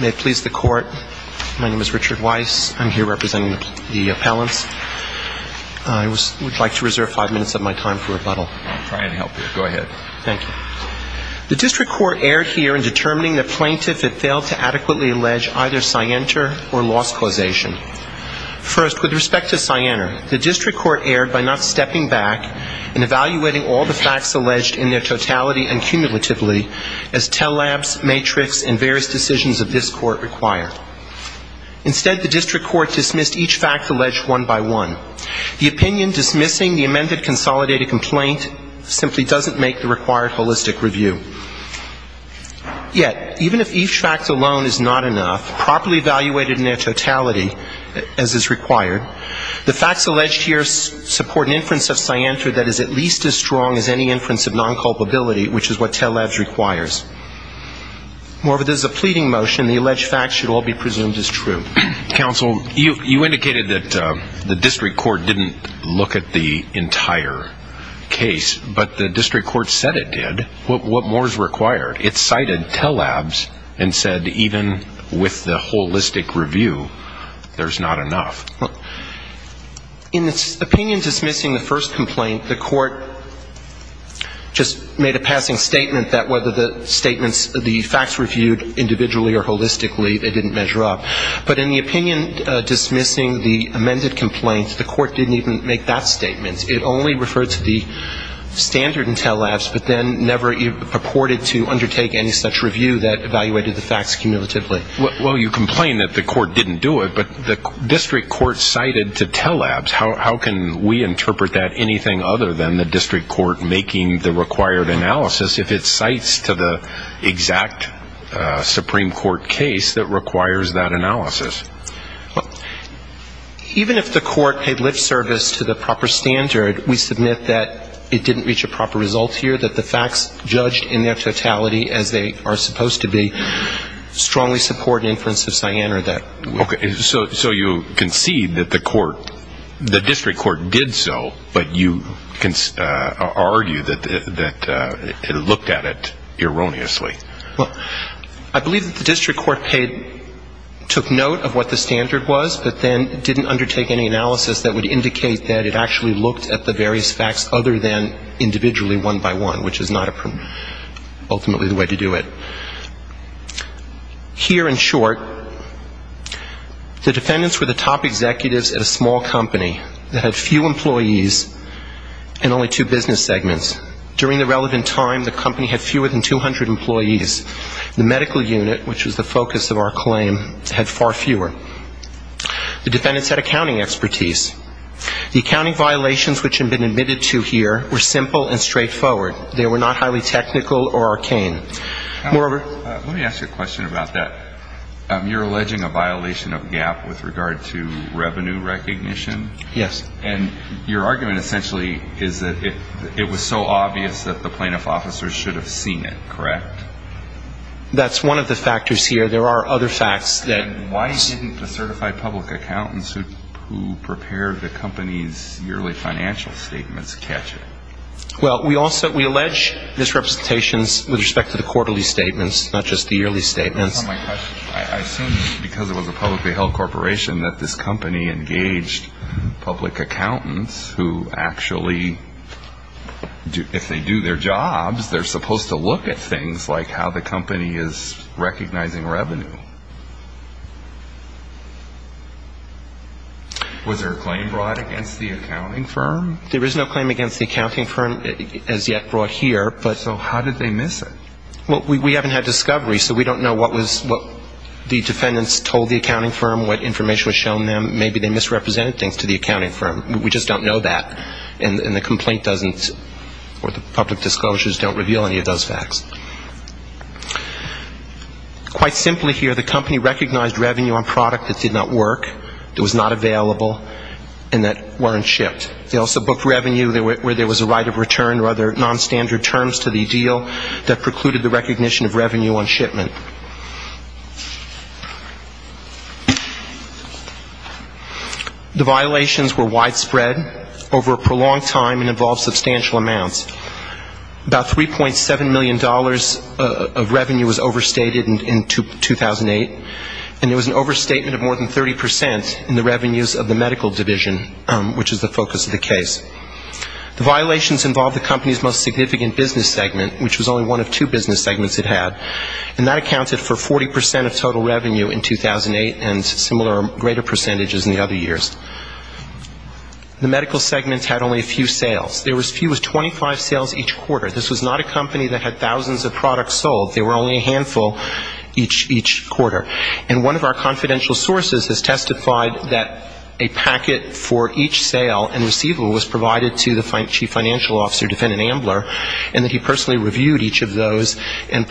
May it please the court. My name is Richard Weiss. I'm here representing the appellants. I would like to reserve five minutes of my time for rebuttal. I'm trying to help you. Go ahead. Thank you. The district court erred here in determining the plaintiff had failed to adequately allege either Sienter or loss causation. First, with respect to Sienter, the district court erred by not stepping back and evaluating all the facts alleged in their totality and cumulatively as Tell Labs, Matrix, and various decisions of this court require. Instead, the district court dismissed each fact alleged one by one. The opinion dismissing the amended consolidated complaint simply doesn't make the required holistic review. Yet, even if each fact alone is not enough, properly evaluated in their totality, as is required, the facts alleged here support an inference of Sienter that is at least as strong as any inference of non-culpability, which is what Tell Labs requires. Moreover, this is a pleading motion. The alleged facts should all be presumed as true. Counsel, you indicated that the district court didn't look at the entire case. But the district court said it did. What more is required? It cited Tell Labs and said even with the holistic review, there's not enough. In its opinion dismissing the first complaint, the court just made a passing statement that whether the statements, the facts reviewed individually or holistically, they didn't measure up. But in the opinion dismissing the amended complaint, the court didn't even make that statement. It only referred to the standard in Tell Labs, but then never purported to undertake any such review that evaluated the facts cumulatively. Well, you complain that the court didn't do it, but the district court cited to Tell Labs. How can we interpret that anything other than the district court making the required analysis if it cites to the exact Supreme Court case that requires that analysis? Even if the court paid lip service to the proper standard, we submit that it didn't reach a proper result here, that the facts judged in their totality as they are supposed to be strongly support an inference of Cyan or that. Okay. So you concede that the court, the district court did so, but you argue that it looked at it erroneously. Well, I believe that the district court took note of what the standard was, but then didn't undertake any analysis that would indicate that it actually looked at the various facts other than individually one by one, which is not ultimately the way to do it. Here in short, the defendants were the top executives at a small company that had few employees and only two business segments. During the relevant time, the company had fewer than 200 employees. The medical unit, which was the focus of our claim, had far fewer. The defendants had accounting expertise. The accounting violations which had been admitted to here were simple and straightforward. They were not highly technical or arcane. Let me ask you a question about that. You're alleging a violation of GAAP with regard to revenue recognition? Yes. And your argument essentially is that it was so obvious that the plaintiff officers should have seen it, correct? That's one of the factors here. There are other facts that ---- Why didn't the certified public accountants who prepare the company's yearly financial statements catch it? Well, we also ---- we allege misrepresentations with respect to the quarterly statements, not just the yearly statements. That's not my question. I assume because it was a publicly held corporation that this company engaged public accountants who actually, if they do their jobs, they're supposed to look at things like how the company is recognizing revenue. Was there a claim brought against the accounting firm? There is no claim against the accounting firm as yet brought here, but ---- So how did they miss it? Well, we haven't had discovery, so we don't know what the defendants told the accounting firm, what information was shown to them. Maybe they misrepresented things to the accounting firm. We just don't know that, and the complaint doesn't or the public disclosures don't reveal any of those facts. Quite simply here, the company recognized revenue on product that did not work, that was not available, and that weren't shipped. They also booked revenue where there was a right of return or other nonstandard terms to the deal that precluded the recognition of revenue on shipment. The violations were widespread over a prolonged time and involved substantial amounts. About $3.7 million of revenue was overstated in 2008, and there was an overstatement of more than 30% in the revenues of the medical division, which is the focus of the case. The violations involved the company's most significant business segment, which was only one of two business segments it had. And that accounted for 40% of total revenue in 2008 and similar or greater percentages in the other years. The medical segments had only a few sales. There was 25 sales each quarter. This was not a company that had thousands of products sold. There were only a handful each quarter. And one of our confidential sources has testified that a packet for each sale and receivable was provided to the chief financial officer, defendant Ambler, and that he personally reviewed each of those and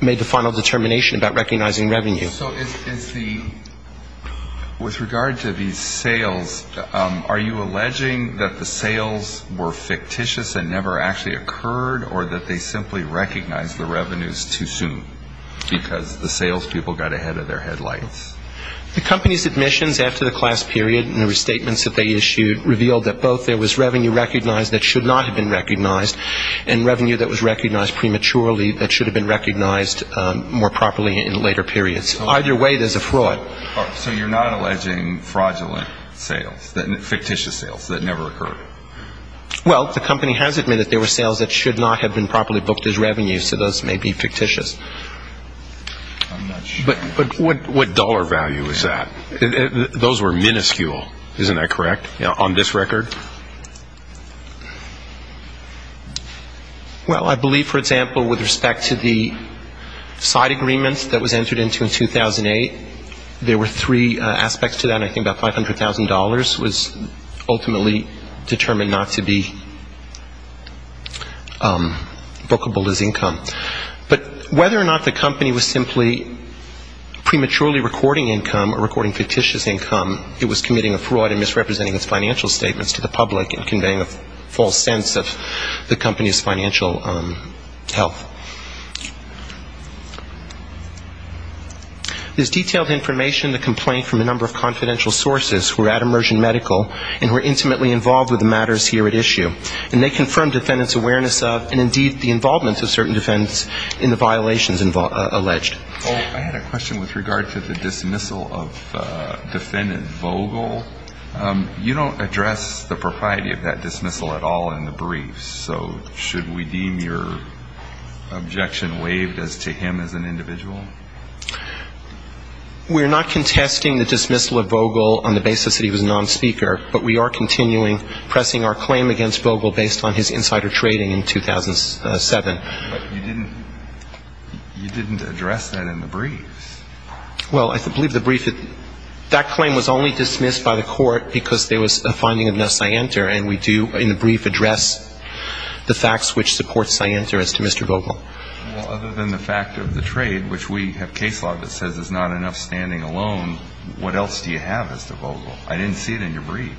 made the final determination about recognizing revenue. So with regard to these sales, are you alleging that the sales were fictitious and never actually occurred, or that they simply recognized the revenues too soon because the salespeople got ahead of their headlights? The company's admissions after the class period and the restatements that they issued revealed that both there was revenue recognized that should not have been recognized, and revenue that was recognized prematurely that should have been recognized more properly in later periods. So either way, there's a fraud. So you're not alleging fraudulent sales, fictitious sales that never occurred? Well, the company has admitted there were sales that should not have been properly booked as revenues, so those may be fictitious. But what dollar value is that? Those were minuscule, isn't that correct, on this record? Well, I believe, for example, with respect to the side agreements that was entered into in 2008, there were three aspects to that. I think about $500,000 was ultimately determined not to be bookable as income. But whether or not the company was simply prematurely recording income or recording fictitious income, it was committing a fraud and misrepresenting its financial statements to the public and conveying a false sense of the company's financial health. There's detailed information in the complaint from a number of confidential sources who are at Immersion Medical and who are intimately involved with the matters here at issue. And they confirm defendants' awareness of and indeed the involvement of certain defendants in the violations alleged. I had a question with regard to the dismissal of defendant Vogel. You don't address the propriety of that dismissal at all in the briefs, so should we deem your objection waived as to him as an individual? We're not contesting the dismissal of Vogel on the basis that he was a nonspeaker, but we are continuing pressing our claim against Vogel based on his insider trading in 2007. But you didn't address that in the briefs. Well, I believe the brief, that claim was only dismissed by the court because there was a finding of no scienter, and we do in the brief address the facts which support scienter as to Mr. Vogel. Well, other than the fact of the trade, which we have case law that says there's not enough standing alone, what else do you have as to Vogel? I didn't see it in your brief.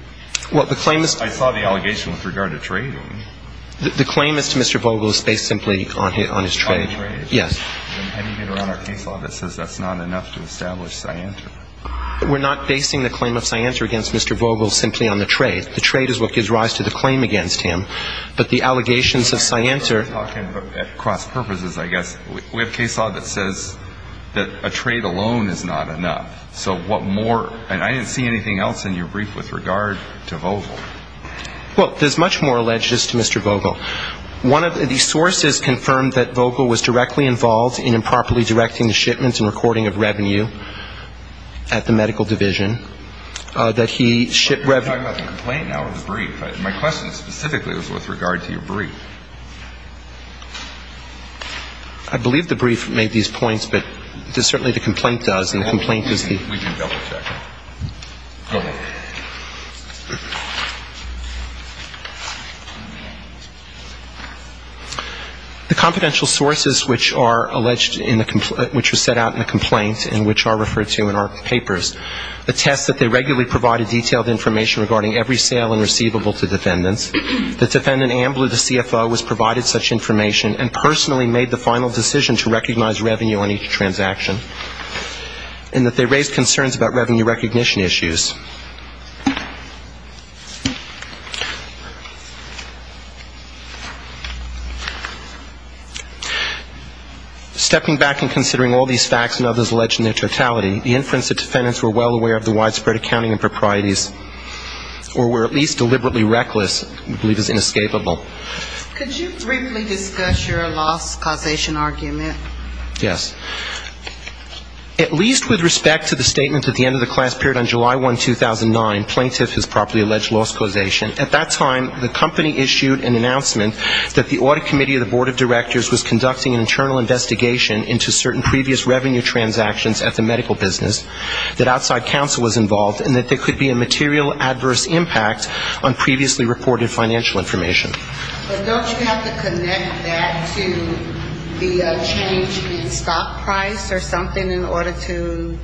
I saw the allegation with regard to trading. The claim as to Mr. Vogel is based simply on his trade. Yes. And even around our case law that says that's not enough to establish scienter. We're not basing the claim of scienter against Mr. Vogel simply on the trade. The trade is what gives rise to the claim against him. But the allegations of scienter. We're talking at cross purposes, I guess. We have case law that says that a trade alone is not enough. So what more? And I didn't see anything else in your brief with regard to Vogel. Well, there's much more alleged to Mr. Vogel. One of the sources confirmed that Vogel was directly involved in improperly directing the shipments and recording of revenue at the medical division, that he shipped revenue. You're talking about the complaint now or the brief. My question specifically was with regard to your brief. I believe the brief made these points, but certainly the complaint does, and the complaint is the confidential sources, which are set out in the complaint and which are referred to in our papers, attest that they regularly provided detailed information regarding every sale and receivable to defendants. The defendant ambly the CFO was provided such information and personally made the final decision to recognize revenue on each transaction. And that they raised concerns about revenue recognition issues. Stepping back and considering all these facts and others alleged in their totality, the inference that defendants were well aware of the widespread accounting improprieties or were at least deliberately reckless we believe is inescapable. Could you briefly discuss your loss causation argument? Yes. At least with respect to the statement at the end of the class period on July 1, 2009, plaintiff has properly alleged loss causation. At that time, the company issued an announcement that the audit committee of the board of directors was conducting an internal investigation into certain previous revenue transactions at the medical business, that outside counsel was involved, and that there could be a material adverse impact on previously reported financial information. But don't you have to connect that to the change in stock price or something in order to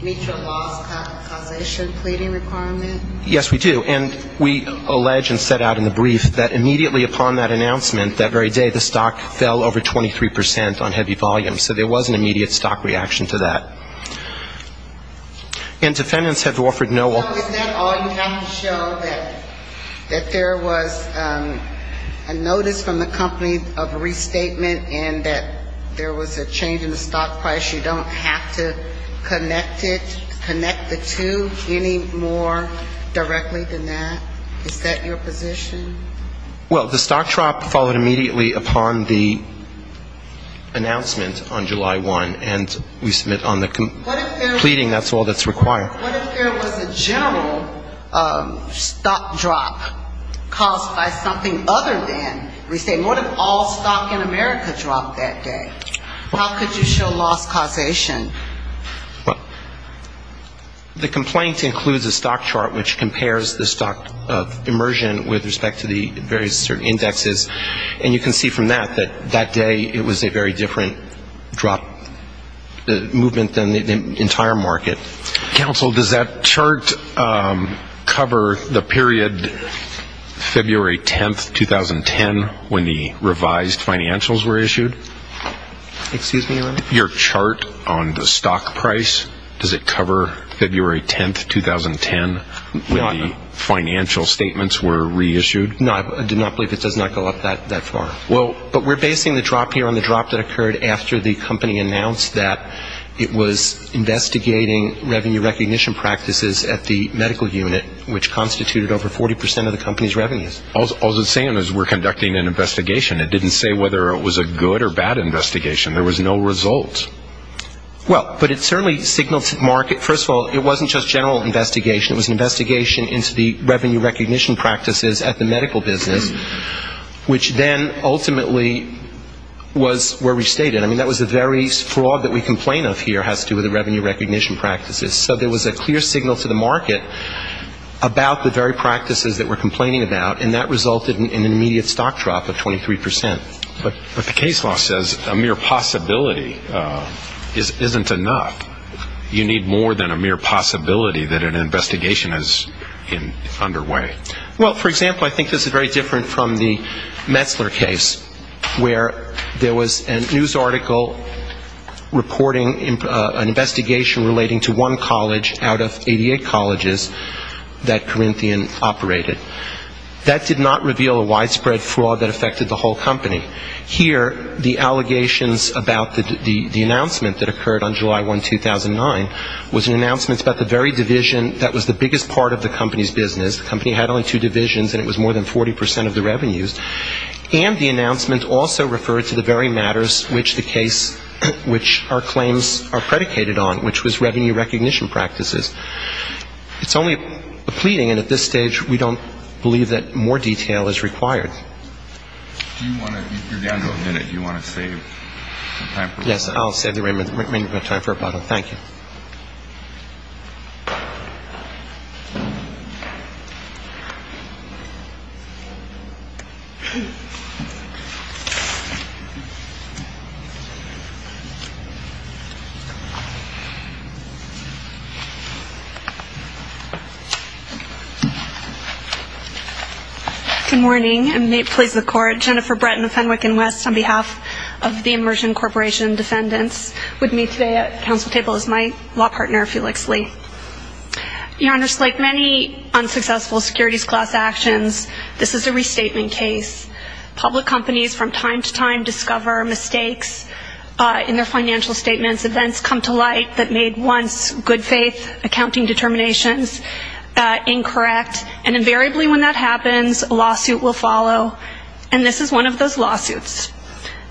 meet your loss causation pleading requirement? Yes, we do. And we allege and set out in the brief that immediately upon that announcement that very day, the stock fell over 23 percent on heavy volume. So there was an immediate stock reaction to that. And defendants have offered no all. So is that all you have to show, that there was a notice from the company of restatement and that there was a change in the stock price? You don't have to connect it, connect the two any more directly than that? Is that your position? Well, the stock drop followed immediately upon the announcement on July 1, and we submit on the pleading, that's all that's required. What if there was a general stock drop caused by something other than restatement? What if all stock in America dropped that day? How could you show loss causation? The complaint includes a stock chart which compares the stock immersion with respect to the various certain indexes, and you can see from that that that day it was a very different drop movement than the entire market. Counsel, does that chart cover the period February 10, 2010, when the revised financials were issued? Excuse me, Your Honor? Your chart on the stock price, does it cover February 10, 2010, when the financial statements were reissued? No, I do not believe it does not go up that far. Well, but we're basing the drop here on the drop that occurred after the company announced that it was investigating revenue recognition practices at the medical unit, which constituted over 40% of the company's revenues. All it's saying is we're conducting an investigation. It didn't say whether it was a good or bad investigation. There was no result. Well, but it certainly signaled to the market, first of all, it wasn't just general investigation. It was an investigation into the revenue recognition practices at the medical business, which then ultimately was where we stayed at. I mean, that was the very fraud that we complain of here has to do with the revenue recognition practices. So there was a clear signal to the market about the very practices that we're complaining about, and that resulted in an immediate stock drop of 23%. But the case law says a mere possibility isn't enough. You need more than a mere possibility that an investigation is underway. Well, for example, I think this is very different from the Metzler case, where there was a news article reporting an investigation relating to one college out of 88 colleges that Corinthian operated. That did not reveal a widespread fraud that affected the whole company. Here, the allegations about the announcement that occurred on July 1, 2009, was an announcement about the very division that was the biggest part of the company's business. The company had only two divisions, and it was more than 40% of the revenues. And the announcement also referred to the very matters which the case, which our claims are predicated on, which was revenue recognition practices. It's only a pleading, and at this stage, we don't believe that more detail is required. You're down to a minute. Do you want to save some time for a bottle? Yes, I'll save the remaining time for a bottle. Thank you. Good morning. I'm Nate Pleas of the Court, Jennifer Breton of Fenwick and West, on behalf of the Immersion Corporation Defendants. With me today at the council table is my law partner, Felix Lee. Your Honor, like many unsuccessful securities class actions, this is a restatement case. Public companies from time to time discover mistakes in their financial statements, events come to light that made once good faith accounting determinations incorrect, and invariably when that happens, a lawsuit will follow. And this is one of those lawsuits.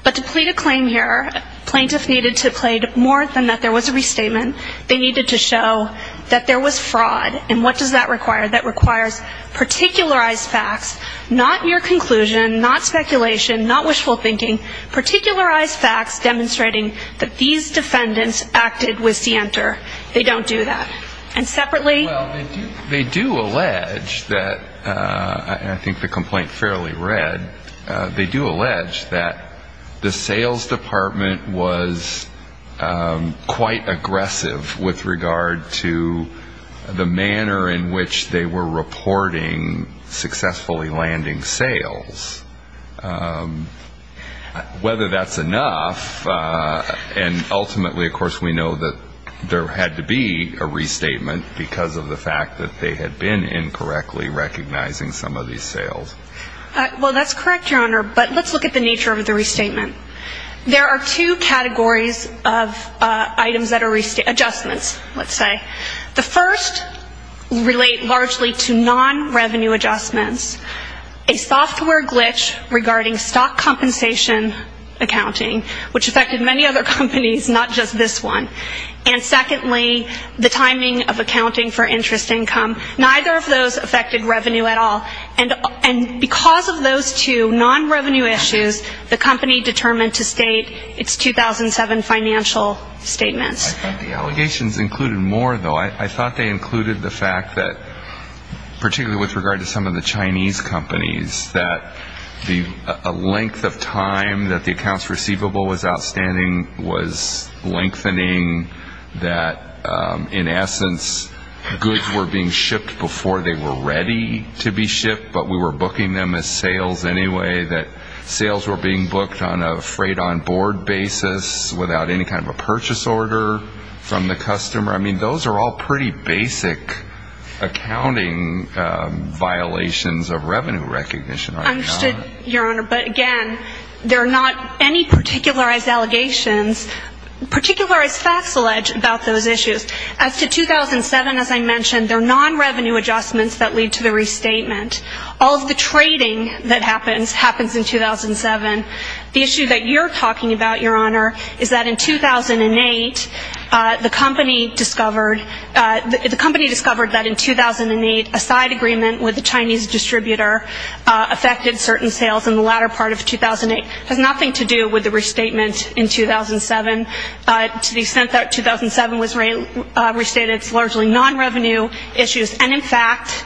But to plead a claim here, plaintiffs needed to plead more than that there was a restatement. They needed to show that there was fraud. And what does that require? That requires particularized facts, not mere conclusion, not speculation, not wishful thinking, particularized facts demonstrating that these defendants acted with scienter. They don't do that. And separately they do allege that, and I think the complaint fairly read, they do allege that the sales department was quite aggressive with regard to the manner in which they were reporting successfully landing sales. Whether that's enough, and ultimately, of course, we know that there had to be a restatement because of the fact that they had been incorrectly recognizing some of these sales. Well, that's correct, Your Honor, but let's look at the nature of the restatement. There are two categories of items that are adjustments, let's say. The first relate largely to non-revenue adjustments, a software glitch regarding stock compensation accounting, which affected many other companies, not just this one. And secondly, the timing of accounting for interest income. Neither of those affected revenue at all, and because of those two non-revenue issues, the company determined to state its 2007 financial statements. I thought the allegations included more, though. I thought they included the fact that, particularly with regard to some of the Chinese companies, that a length of time that the accounts receivable was outstanding was lengthening, that, in essence, goods were being shipped before they were ready to be shipped, but we were booking them as sales anyway, that sales were being booked on a freight-on-board basis without any kind of a purchase order from the customer. I mean, those are all pretty basic accounting violations of revenue recognition, are they not? Understood, Your Honor, but again, there are not any particularized allegations. Particularized facts allege about those issues. As to 2007, as I mentioned, they're non-revenue adjustments that lead to the restatement. All of the trading that happens happens in 2007. The issue that you're talking about, Your Honor, is that in 2008, the company discovered that in 2008 a side agreement with a Chinese distributor affected certain sales in the latter part of 2008. It has nothing to do with the restatement in 2007. To the extent that 2007 was restated, it's largely non-revenue issues. And, in fact,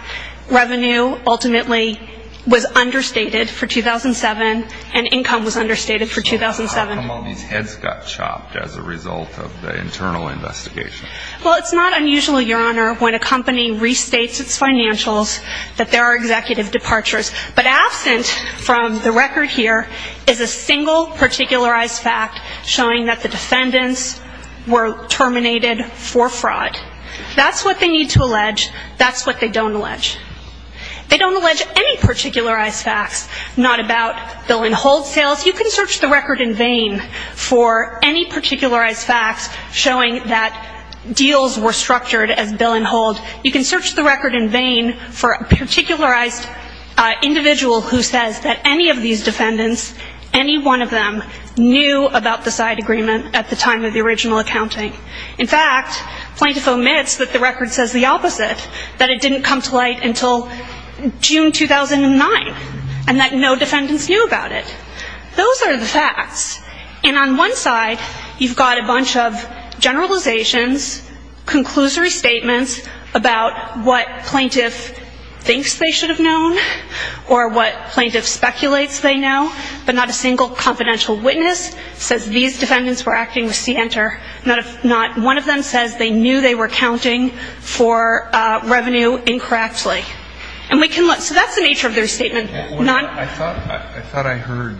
revenue ultimately was understated for 2007, and income was understated for 2007. So how come all these heads got chopped as a result of the internal investigation? Well, it's not unusual, Your Honor, when a company restates its financials, that there are executive departures. But absent from the record here is a single particularized fact showing that the defendants were terminated for fraud. That's what they need to allege. That's what they don't allege. They don't allege any particularized facts, not about Bill & Hold sales. You can search the record in vain for any particularized facts showing that deals were structured as Bill & Hold. You can search the record in vain for a particularized individual who says that any of these defendants, any one of them, knew about the side agreement at the time of the original accounting. In fact, plaintiff omits that the record says the opposite, that it didn't come to light until June 2009, and that no defendants knew about it. Those are the facts. And on one side, you've got a bunch of generalizations, conclusory statements about what plaintiff thinks they should have known or what plaintiff speculates they know, but not a single confidential witness says these defendants were acting with CNTR. Not one of them says they knew they were accounting for revenue incorrectly. And we can look. So that's the nature of their statement. I thought I heard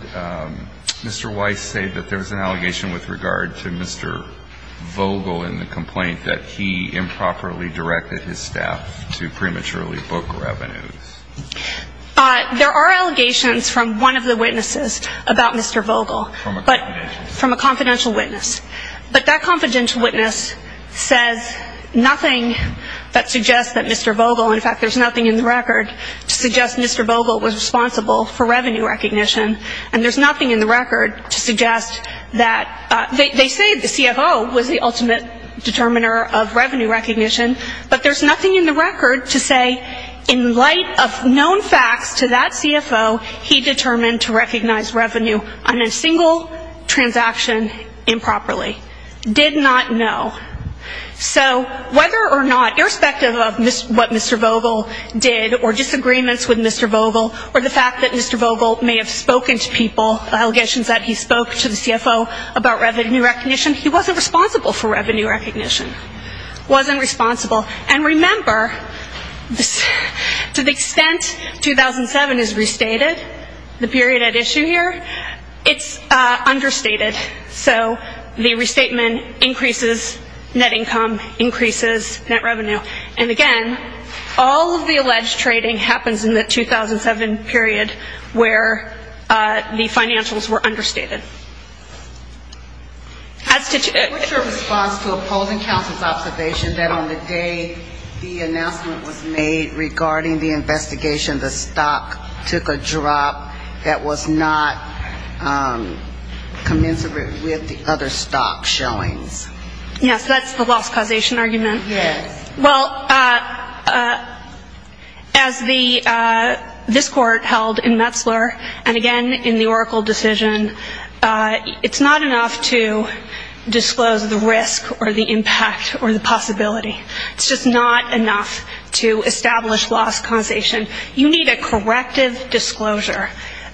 Mr. Weiss say that there was an allegation with regard to Mr. Vogel in the complaint that he improperly directed his staff to prematurely book revenues. There are allegations from one of the witnesses about Mr. Vogel. From a confidential witness. But that confidential witness says nothing that suggests that Mr. Vogel, in fact, there's nothing in the record to suggest Mr. Vogel was responsible for revenue recognition, and there's nothing in the record to suggest that they say the CFO was the ultimate determiner of revenue recognition, but there's nothing in the record to say in light of known facts to that CFO, he determined to recognize revenue on a single transaction improperly. Did not know. So whether or not, irrespective of what Mr. Vogel did or disagreements with Mr. Vogel or the fact that Mr. Vogel may have spoken to people, allegations that he spoke to the CFO about revenue recognition, he wasn't responsible for revenue recognition. Wasn't responsible. And remember, to the extent 2007 is restated, the period at issue here, it's understated. So the restatement increases net income, increases net revenue. And again, all of the alleged trading happens in the 2007 period where the financials were understated. As to... What's your response to opposing counsel's observation that on the day the announcement was made regarding the investigation, the stock took a drop that was not commensurate with the other stock showings? Yes, that's the loss causation argument. Yes. Well, as this court held in Metzler and again in the Oracle decision, it's not enough to disclose the risk or the impact or the possibility. It's just not enough to establish loss causation. You need a corrective disclosure.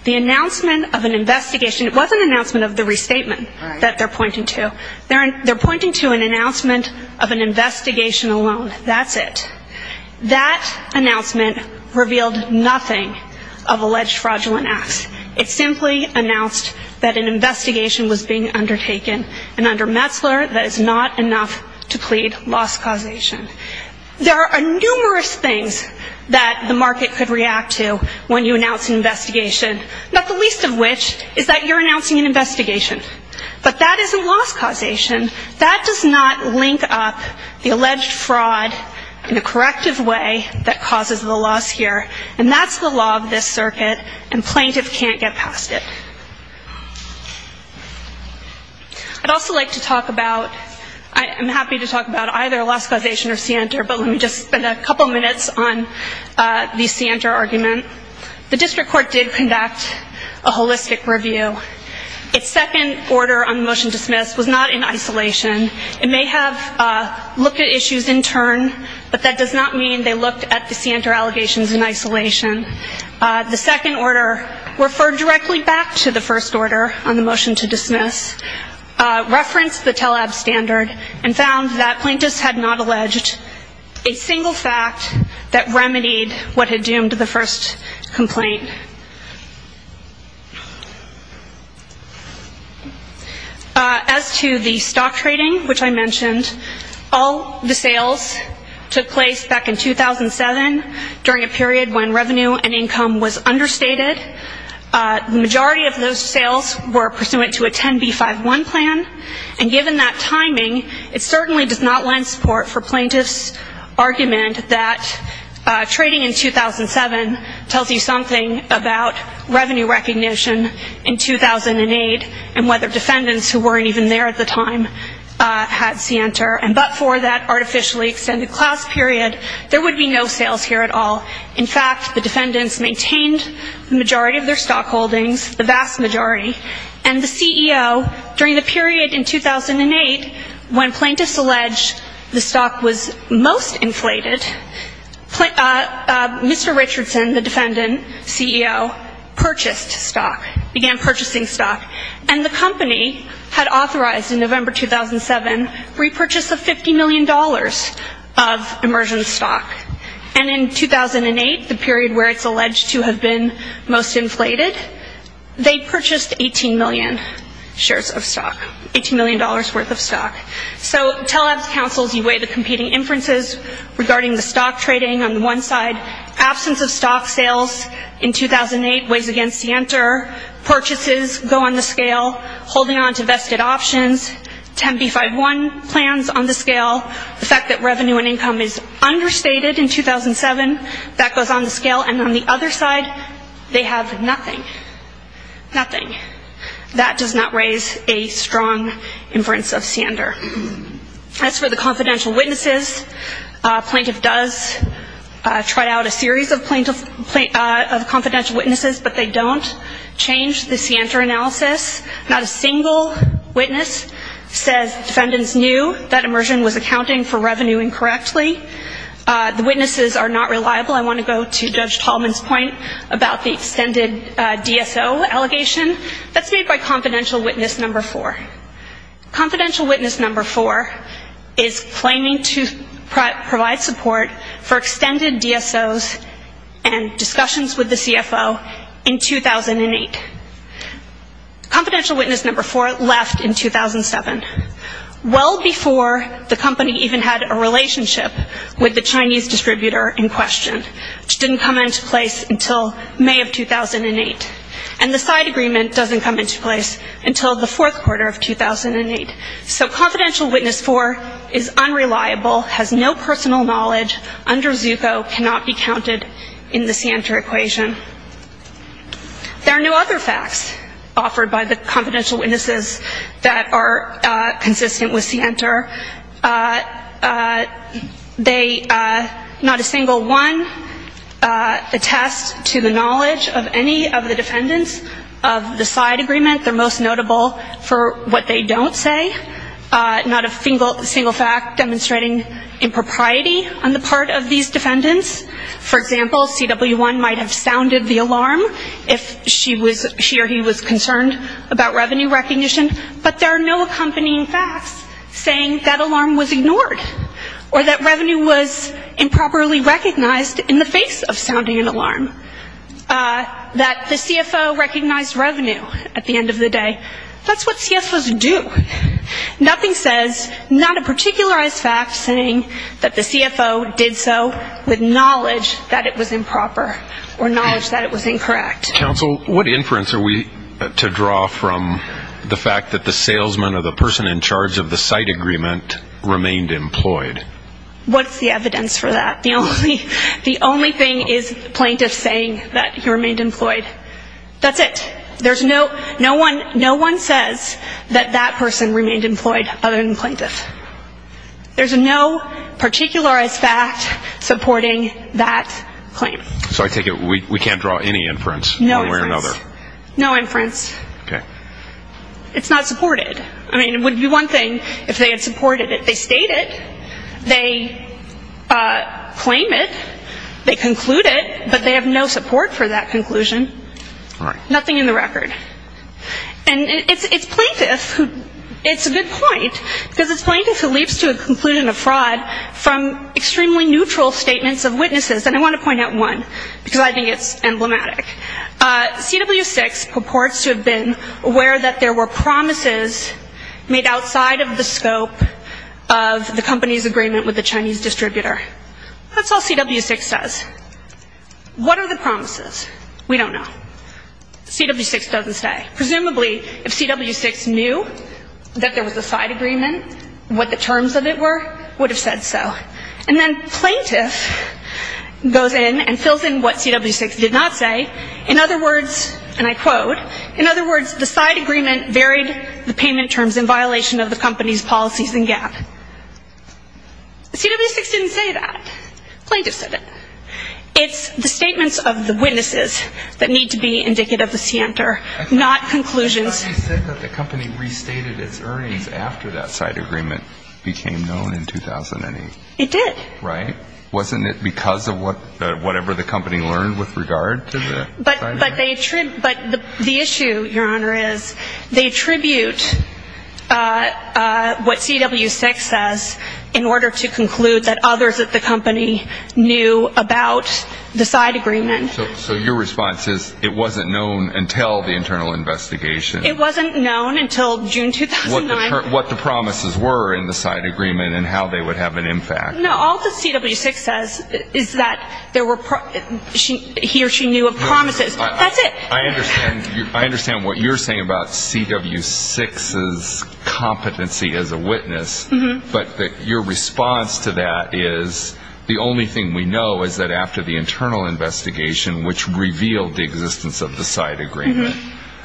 The announcement of an investigation, it was an announcement of the restatement that they're pointing to. They're pointing to an announcement of an investigation alone. That's it. That announcement revealed nothing of alleged fraudulent acts. It simply announced that an investigation was being undertaken. And under Metzler, that is not enough to plead loss causation. There are numerous things that the market could react to when you announce an investigation, not the least of which is that you're announcing an investigation. But that isn't loss causation. That does not link up the alleged fraud in a corrective way that causes the loss here. And that's the law of this circuit and plaintiff can't get past it. I'd also like to talk about, I'm happy to talk about either loss causation or scienter, but let me just spend a couple minutes on the scienter argument. The district court did conduct a holistic review. Its second order on the motion to dismiss was not in isolation. It may have looked at issues in turn, but that does not mean they looked at the scienter allegations in isolation. The second order referred directly back to the first order on the motion to dismiss, referenced the TELAB standard, and found that plaintiffs had not alleged a single fact that remedied what had doomed the first complaint. As to the stock trading, which I mentioned, all the sales took place back in 2007 during a period when revenue and income was understated. The majority of those sales were pursuant to a 10B51 plan, and given that timing, it certainly does not lend support for plaintiffs' argument that trading in 2007 tells you something about revenue recognition in 2008 and whether defendants who weren't even there at the time had scienter. But for that artificially extended class period, there would be no sales here at all. In fact, the defendants maintained the majority of their stock holdings, the vast majority, and the CEO, during the period in 2008 when plaintiffs alleged the stock was most inflated, Mr. Richardson, the defendant, CEO, purchased stock, began purchasing stock, and the company had authorized in November 2007 repurchase of $50 million of immersion stock. And in 2008, the period where it's alleged to have been most inflated, they purchased 18 million shares of stock, $18 million worth of stock. So TELAB's counsels, you weigh the competing inferences regarding the stock trading on the one side, absence of stock sales in 2008 weighs against scienter, purchases go on the scale, holding on to vested options, 10B51 plans on the scale, the fact that revenue and income is understated in 2007, that goes on the scale, and on the other side, they have nothing. Nothing. That does not raise a strong inference of scienter. As for the confidential witnesses, a plaintiff does try out a series of confidential witnesses, but they don't change the scienter analysis. Not a single witness says the defendants knew that immersion was accounting for revenue incorrectly. The witnesses are not reliable. I want to go to Judge Tallman's point about the extended DSO allegation. That's made by confidential witness number four. Confidential witness number four is claiming to provide support for extended DSOs and discussions with the CFO in 2008. Confidential witness number four left in 2007, well before the company even had a relationship with the Chinese distributor in question, which didn't come into place until May of 2008. And the side agreement doesn't come into place until the fourth quarter of 2008. So confidential witness four is unreliable, has no personal knowledge under ZUCO, cannot be counted in the scienter equation. There are no other facts offered by the confidential witnesses that are consistent with scienter. They, not a single one, attest to the knowledge of any of the defendants of the side agreement. They're most notable for what they don't say. Not a single fact demonstrating impropriety on the part of these defendants. For example, CW1 might have sounded the alarm if she or he was concerned about revenue recognition, but there are no accompanying facts saying that alarm was ignored or that revenue was improperly recognized in the face of sounding an alarm. That the CFO recognized revenue at the end of the day. That's what CFOs do. Nothing says not a particularized fact saying that the CFO did so with knowledge that it was improper or knowledge that it was incorrect. Counsel, what inference are we to draw from the fact that the salesman or the person in charge of the site agreement remained employed? What's the evidence for that? The only thing is plaintiffs saying that he remained employed. That's it. No one says that that person remained employed other than plaintiffs. There's no particularized fact supporting that claim. So I take it we can't draw any inference one way or another. No inference. It's not supported. It would be one thing if they had supported it. They state it, they claim it, they conclude it, but they have no support for that conclusion. Nothing in the record. It's a good point because it's plaintiffs who leaps to a conclusion of fraud from extremely neutral statements of witnesses. And I want to point out one because I think it's emblematic. CW6 purports to have been aware that there were promises made outside of the scope of the company's agreement with the Chinese distributor. That's all CW6 says. What are the promises? We don't know. CW6 doesn't say. Presumably if CW6 knew that there was a site agreement, what the terms of it were, would have said so. And then plaintiff goes in and fills in what CW6 did not say. In other words, and I quote, in other words the site agreement varied the payment terms in violation of the company's policies and gap. CW6 didn't say that. Plaintiff said it. It's the statements of the witnesses that need to be indicative of the scienter, not conclusions. You said that the company restated its earnings after that site agreement became known in 2008. It did. Wasn't it because of whatever the company learned with regard to the site agreement? But the issue, Your Honor, is they attribute what CW6 says in order to conclude that others at the company knew about the site agreement. So your response is it wasn't known until the internal investigation. It wasn't known until June 2009. What the promises were in the site agreement and how they would have an impact. No, all that CW6 says is that he or she knew of promises. That's it. I understand what you're saying about CW6's competency as a witness, but your response to that is the only thing we know is that after the internal investigation, which revealed the existence of the site agreement,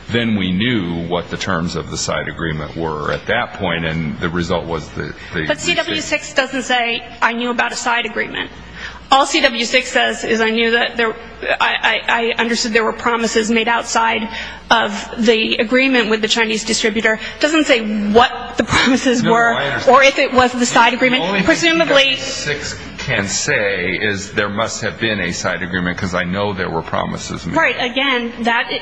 then we knew what the terms of the site agreement were at that point and the result was that... But CW6 doesn't say I knew about a site agreement. All CW6 says is I understood there were promises made outside of the agreement with the Chinese distributor. It doesn't say what the promises were or if it was the site agreement. The only thing CW6 can say is there must have been a site agreement because I know there were promises made. Right,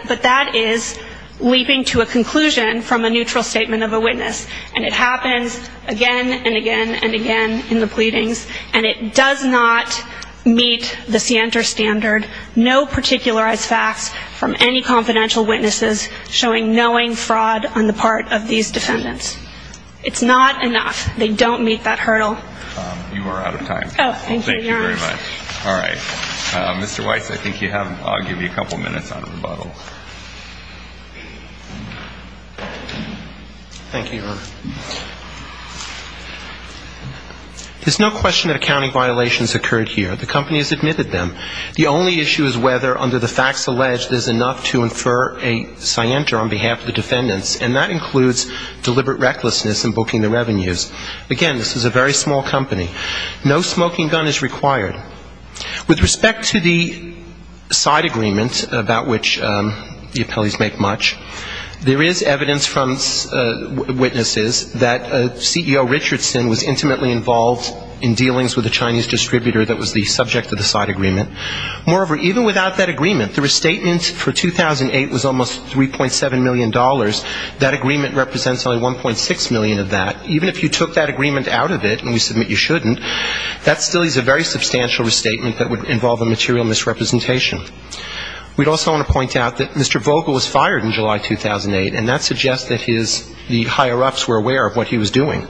but that is leaping to a conclusion from a neutral statement of a witness. And it happens again and again and again in the pleadings and it does not meet the scienter standard, no particularized facts from any confidential witnesses showing knowing fraud on the part of these defendants. It's not enough. They don't meet that hurdle. You are out of time. Thank you very much. All right. Mr. Weiss, I think you have, I'll give you a couple minutes on rebuttal. Thank you, Your Honor. There's no question that accounting violations occurred here. The company has admitted them. The only issue is whether under the facts alleged there's enough to infer a scienter on behalf of the defendants and that includes deliberate recklessness in booking the revenues. Again, this is a very small company. No smoking gun is required. With respect to the site agreement about which the appellees make much, there is evidence from witnesses that CEO Richardson was intimately involved in dealings with the Chinese distributor that was the subject of the site agreement. Moreover, even without that agreement, the restatement for 2008 was almost $3.7 million. That agreement represents only $1.6 million of that. Even if you took that agreement out of it and you submit you shouldn't, that still is a very substantial restatement that would involve a material misrepresentation. We'd also want to point out that Mr. Vogel was fired in July 2008, and that suggests that his, the higher-ups were aware of what he was doing.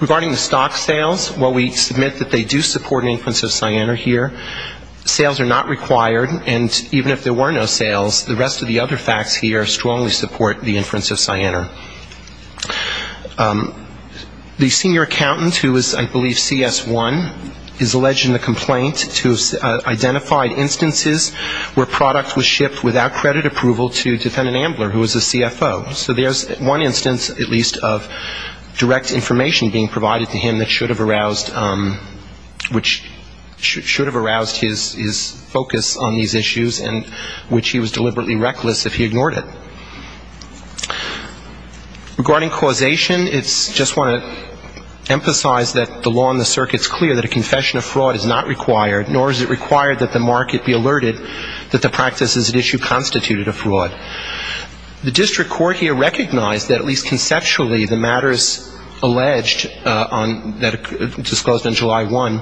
Regarding the stock sales, while we submit that they do support an inference of fraud, which is the inference of Cyanar here, sales are not required, and even if there were no sales, the rest of the other facts here strongly support the inference of Cyanar. The senior accountant, who is, I believe, CS1, is alleged in the complaint to have identified instances where product was shipped without credit approval to defendant Ambler, who was a CFO. So there's one instance, at least, of direct information being provided to him that should have aroused, which should have aroused his focus on these issues and which he was deliberately reckless if he ignored it. Regarding causation, it's, just want to emphasize that the law in the circuit's clear that a confession of fraud is not required, nor is it required that the market be alerted that the practices at issue constituted a fraud. The district court here recognized that, at least conceptually, the matters alleged on the basis of fraud, that were disclosed on July 1,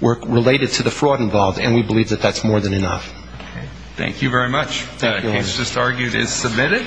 were related to the fraud involved, and we believe that that's more than enough. Thank you very much. That case just argued is submitted.